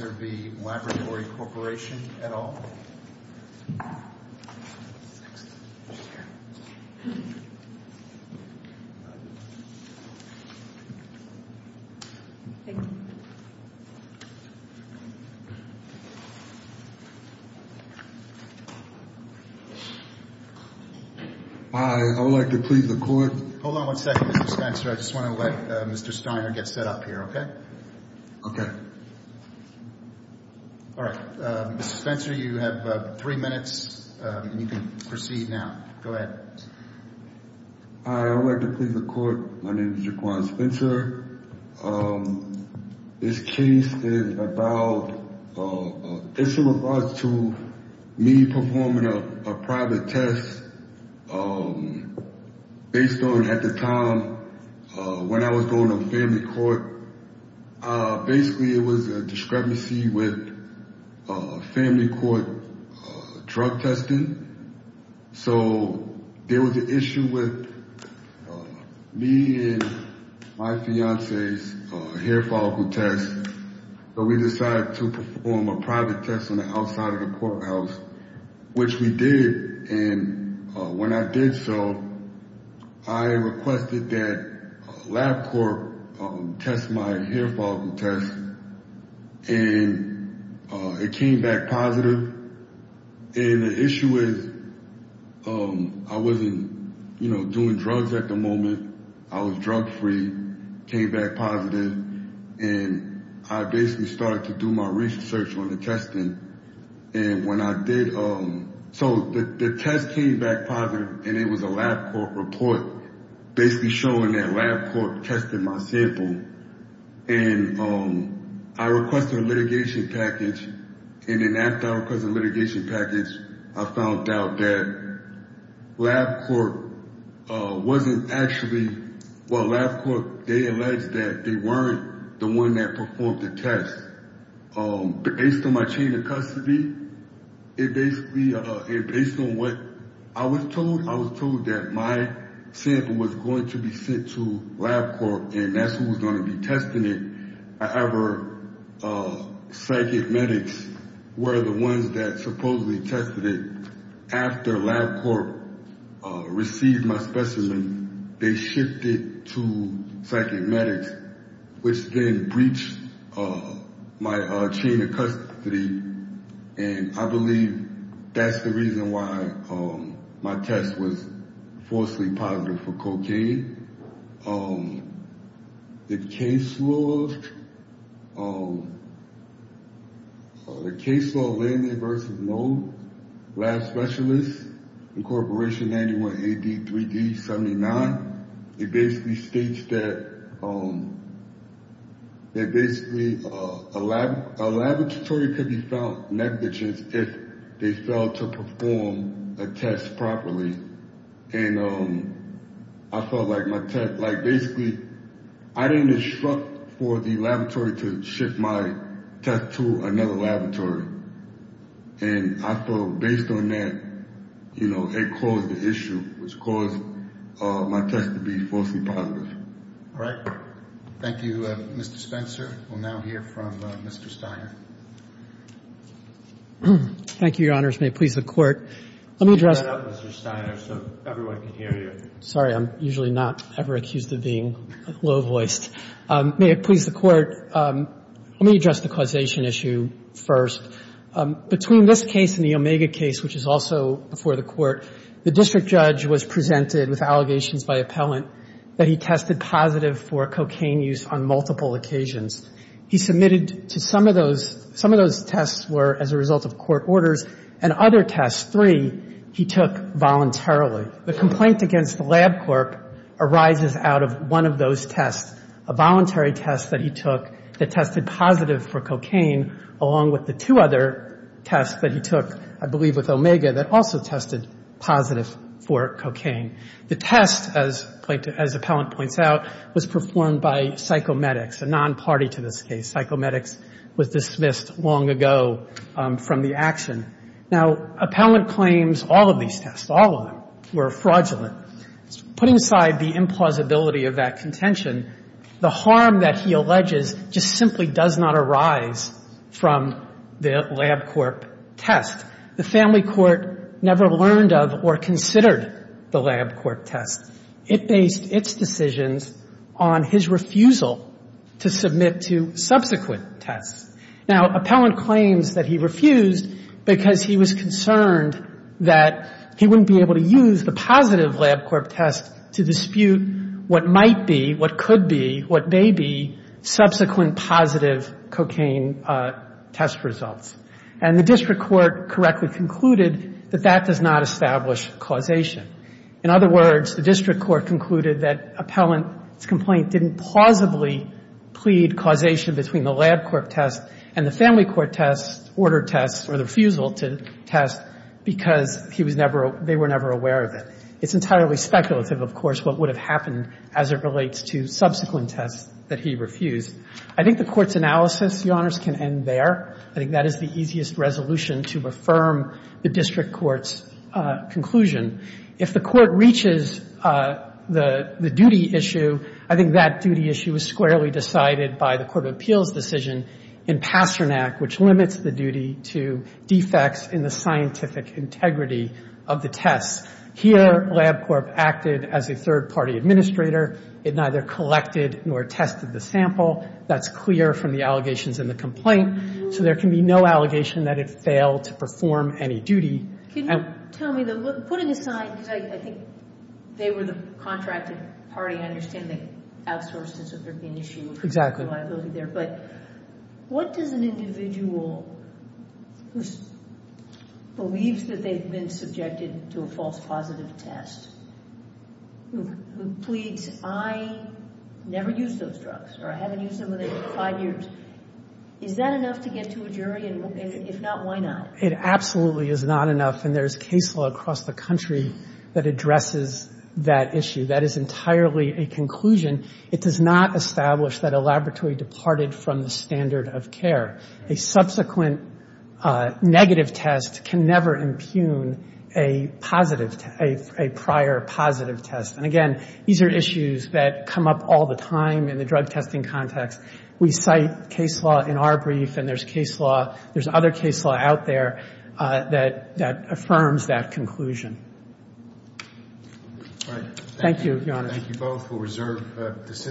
Is there the Laboratory Corporation at all? Hi, I would like to plead the court. Hold on one second, Mr. Spencer. I just want to let Mr. Steiner get set up here, okay? Okay. All right. Mr. Spencer, you have three minutes and you can proceed now. Go ahead. Hi, I would like to plead the court. My name is Jaquan Spencer. This case is about, it's in regards to me performing a private test based on, at the time, when I was going to family court, basically it was a discrepancy with family court drug testing. So there was an issue with me and my fiance's hair follicle test. So we decided to perform a private test on the outside of the courthouse, which we did, and when I did so, I requested that LabCorp test my hair follicle test, and it came back positive. And the issue is I wasn't, you know, doing drugs at the moment. I was drug free, came back positive, and I basically started to do my research on the testing. And when I did, so the test came back positive, and it was a LabCorp report, basically showing that LabCorp tested my sample. And I requested a litigation package, and then after I requested a litigation package, I found out that LabCorp wasn't actually, well, LabCorp, they alleged that they weren't the one that performed the test. Based on my chain of custody, it basically, based on what I was told, I was told that my sample was going to be sent to LabCorp, and that's who was going to be testing it. However, psychic medics were the ones that supposedly tested it. After LabCorp received my specimen, they shipped it to psychic medics, which then breached my chain of custody, and I believe that's the reason why my test was falsely positive for cocaine. The case law, the case law, Landy v. Noll, lab specialist, incorporation 91AD3D79, it basically states that basically a laboratory could be found negligent if they failed to perform a test properly. And I felt like my test, like basically, I didn't instruct for the laboratory to ship my test to another laboratory. And I felt based on that, you know, it caused an issue, which caused my test to be falsely positive. All right. Thank you, Mr. Spencer. We'll now hear from Mr. Steiner. Thank you, Your Honors. May it please the Court. Let me address Mr. Steiner so everyone can hear you. Sorry, I'm usually not ever accused of being low-voiced. May it please the Court. Let me address the causation issue first. Between this case and the Omega case, which is also before the Court, the district judge was presented with allegations by appellant that he tested positive for cocaine use on multiple occasions. He submitted to some of those, some of those tests were as a result of court orders and other tests, three he took voluntarily. The complaint against the lab clerk arises out of one of those tests, a voluntary test that he took that tested positive for cocaine, along with the two other tests that he took, I believe, with Omega, that also tested positive for cocaine. The test, as appellant points out, was performed by psychomedics, a non-party to this case. Psychomedics was dismissed long ago from the action. Now, appellant claims all of these tests, all of them, were fraudulent. Putting aside the implausibility of that contention, the harm that he alleges just simply does not arise from the lab clerk test. The family court never learned of or considered the lab clerk test. It based its decisions on his refusal to submit to subsequent tests. Now, appellant claims that he refused because he was concerned that he wouldn't be able to use the positive lab clerk test to dispute what might be, what could be, what may be subsequent positive cocaine test results. And the district court correctly concluded that that does not establish causation. In other words, the district court concluded that appellant's complaint didn't plausibly plead causation between the lab clerk test and the family court test, ordered test, or the refusal to test because he was never, they were never aware of it. It's entirely speculative, of course, what would have happened as it relates to subsequent tests that he refused. I think the Court's analysis, Your Honors, can end there. I think that is the easiest resolution to affirm the district court's conclusion. If the court reaches the duty issue, I think that duty issue is squarely decided by the Court of Appeals decision in Pasternak, which limits the duty to defects in the scientific integrity of the tests. Here, LabCorp acted as a third-party administrator. It neither collected nor tested the sample. That's clear from the allegations in the complaint. So there can be no allegation that it failed to perform any duty. Can you tell me, putting aside, because I think they were the contracted party, I understand they outsourced it so there'd be an issue of liability there. But what does an individual who believes that they've been subjected to a false positive test, who pleads, I never used those drugs or I haven't used them in five years, is that enough to get to a jury? And if not, why not? It absolutely is not enough. And there's case law across the country that addresses that issue. That is entirely a conclusion. It does not establish that a laboratory departed from the standard of care. A subsequent negative test can never impugn a positive, a prior positive test. And, again, these are issues that come up all the time in the drug testing context. We cite case law in our brief and there's case law, there's other case law out there that affirms that conclusion. Thank you, Your Honor. Thank you both for reserved decisions.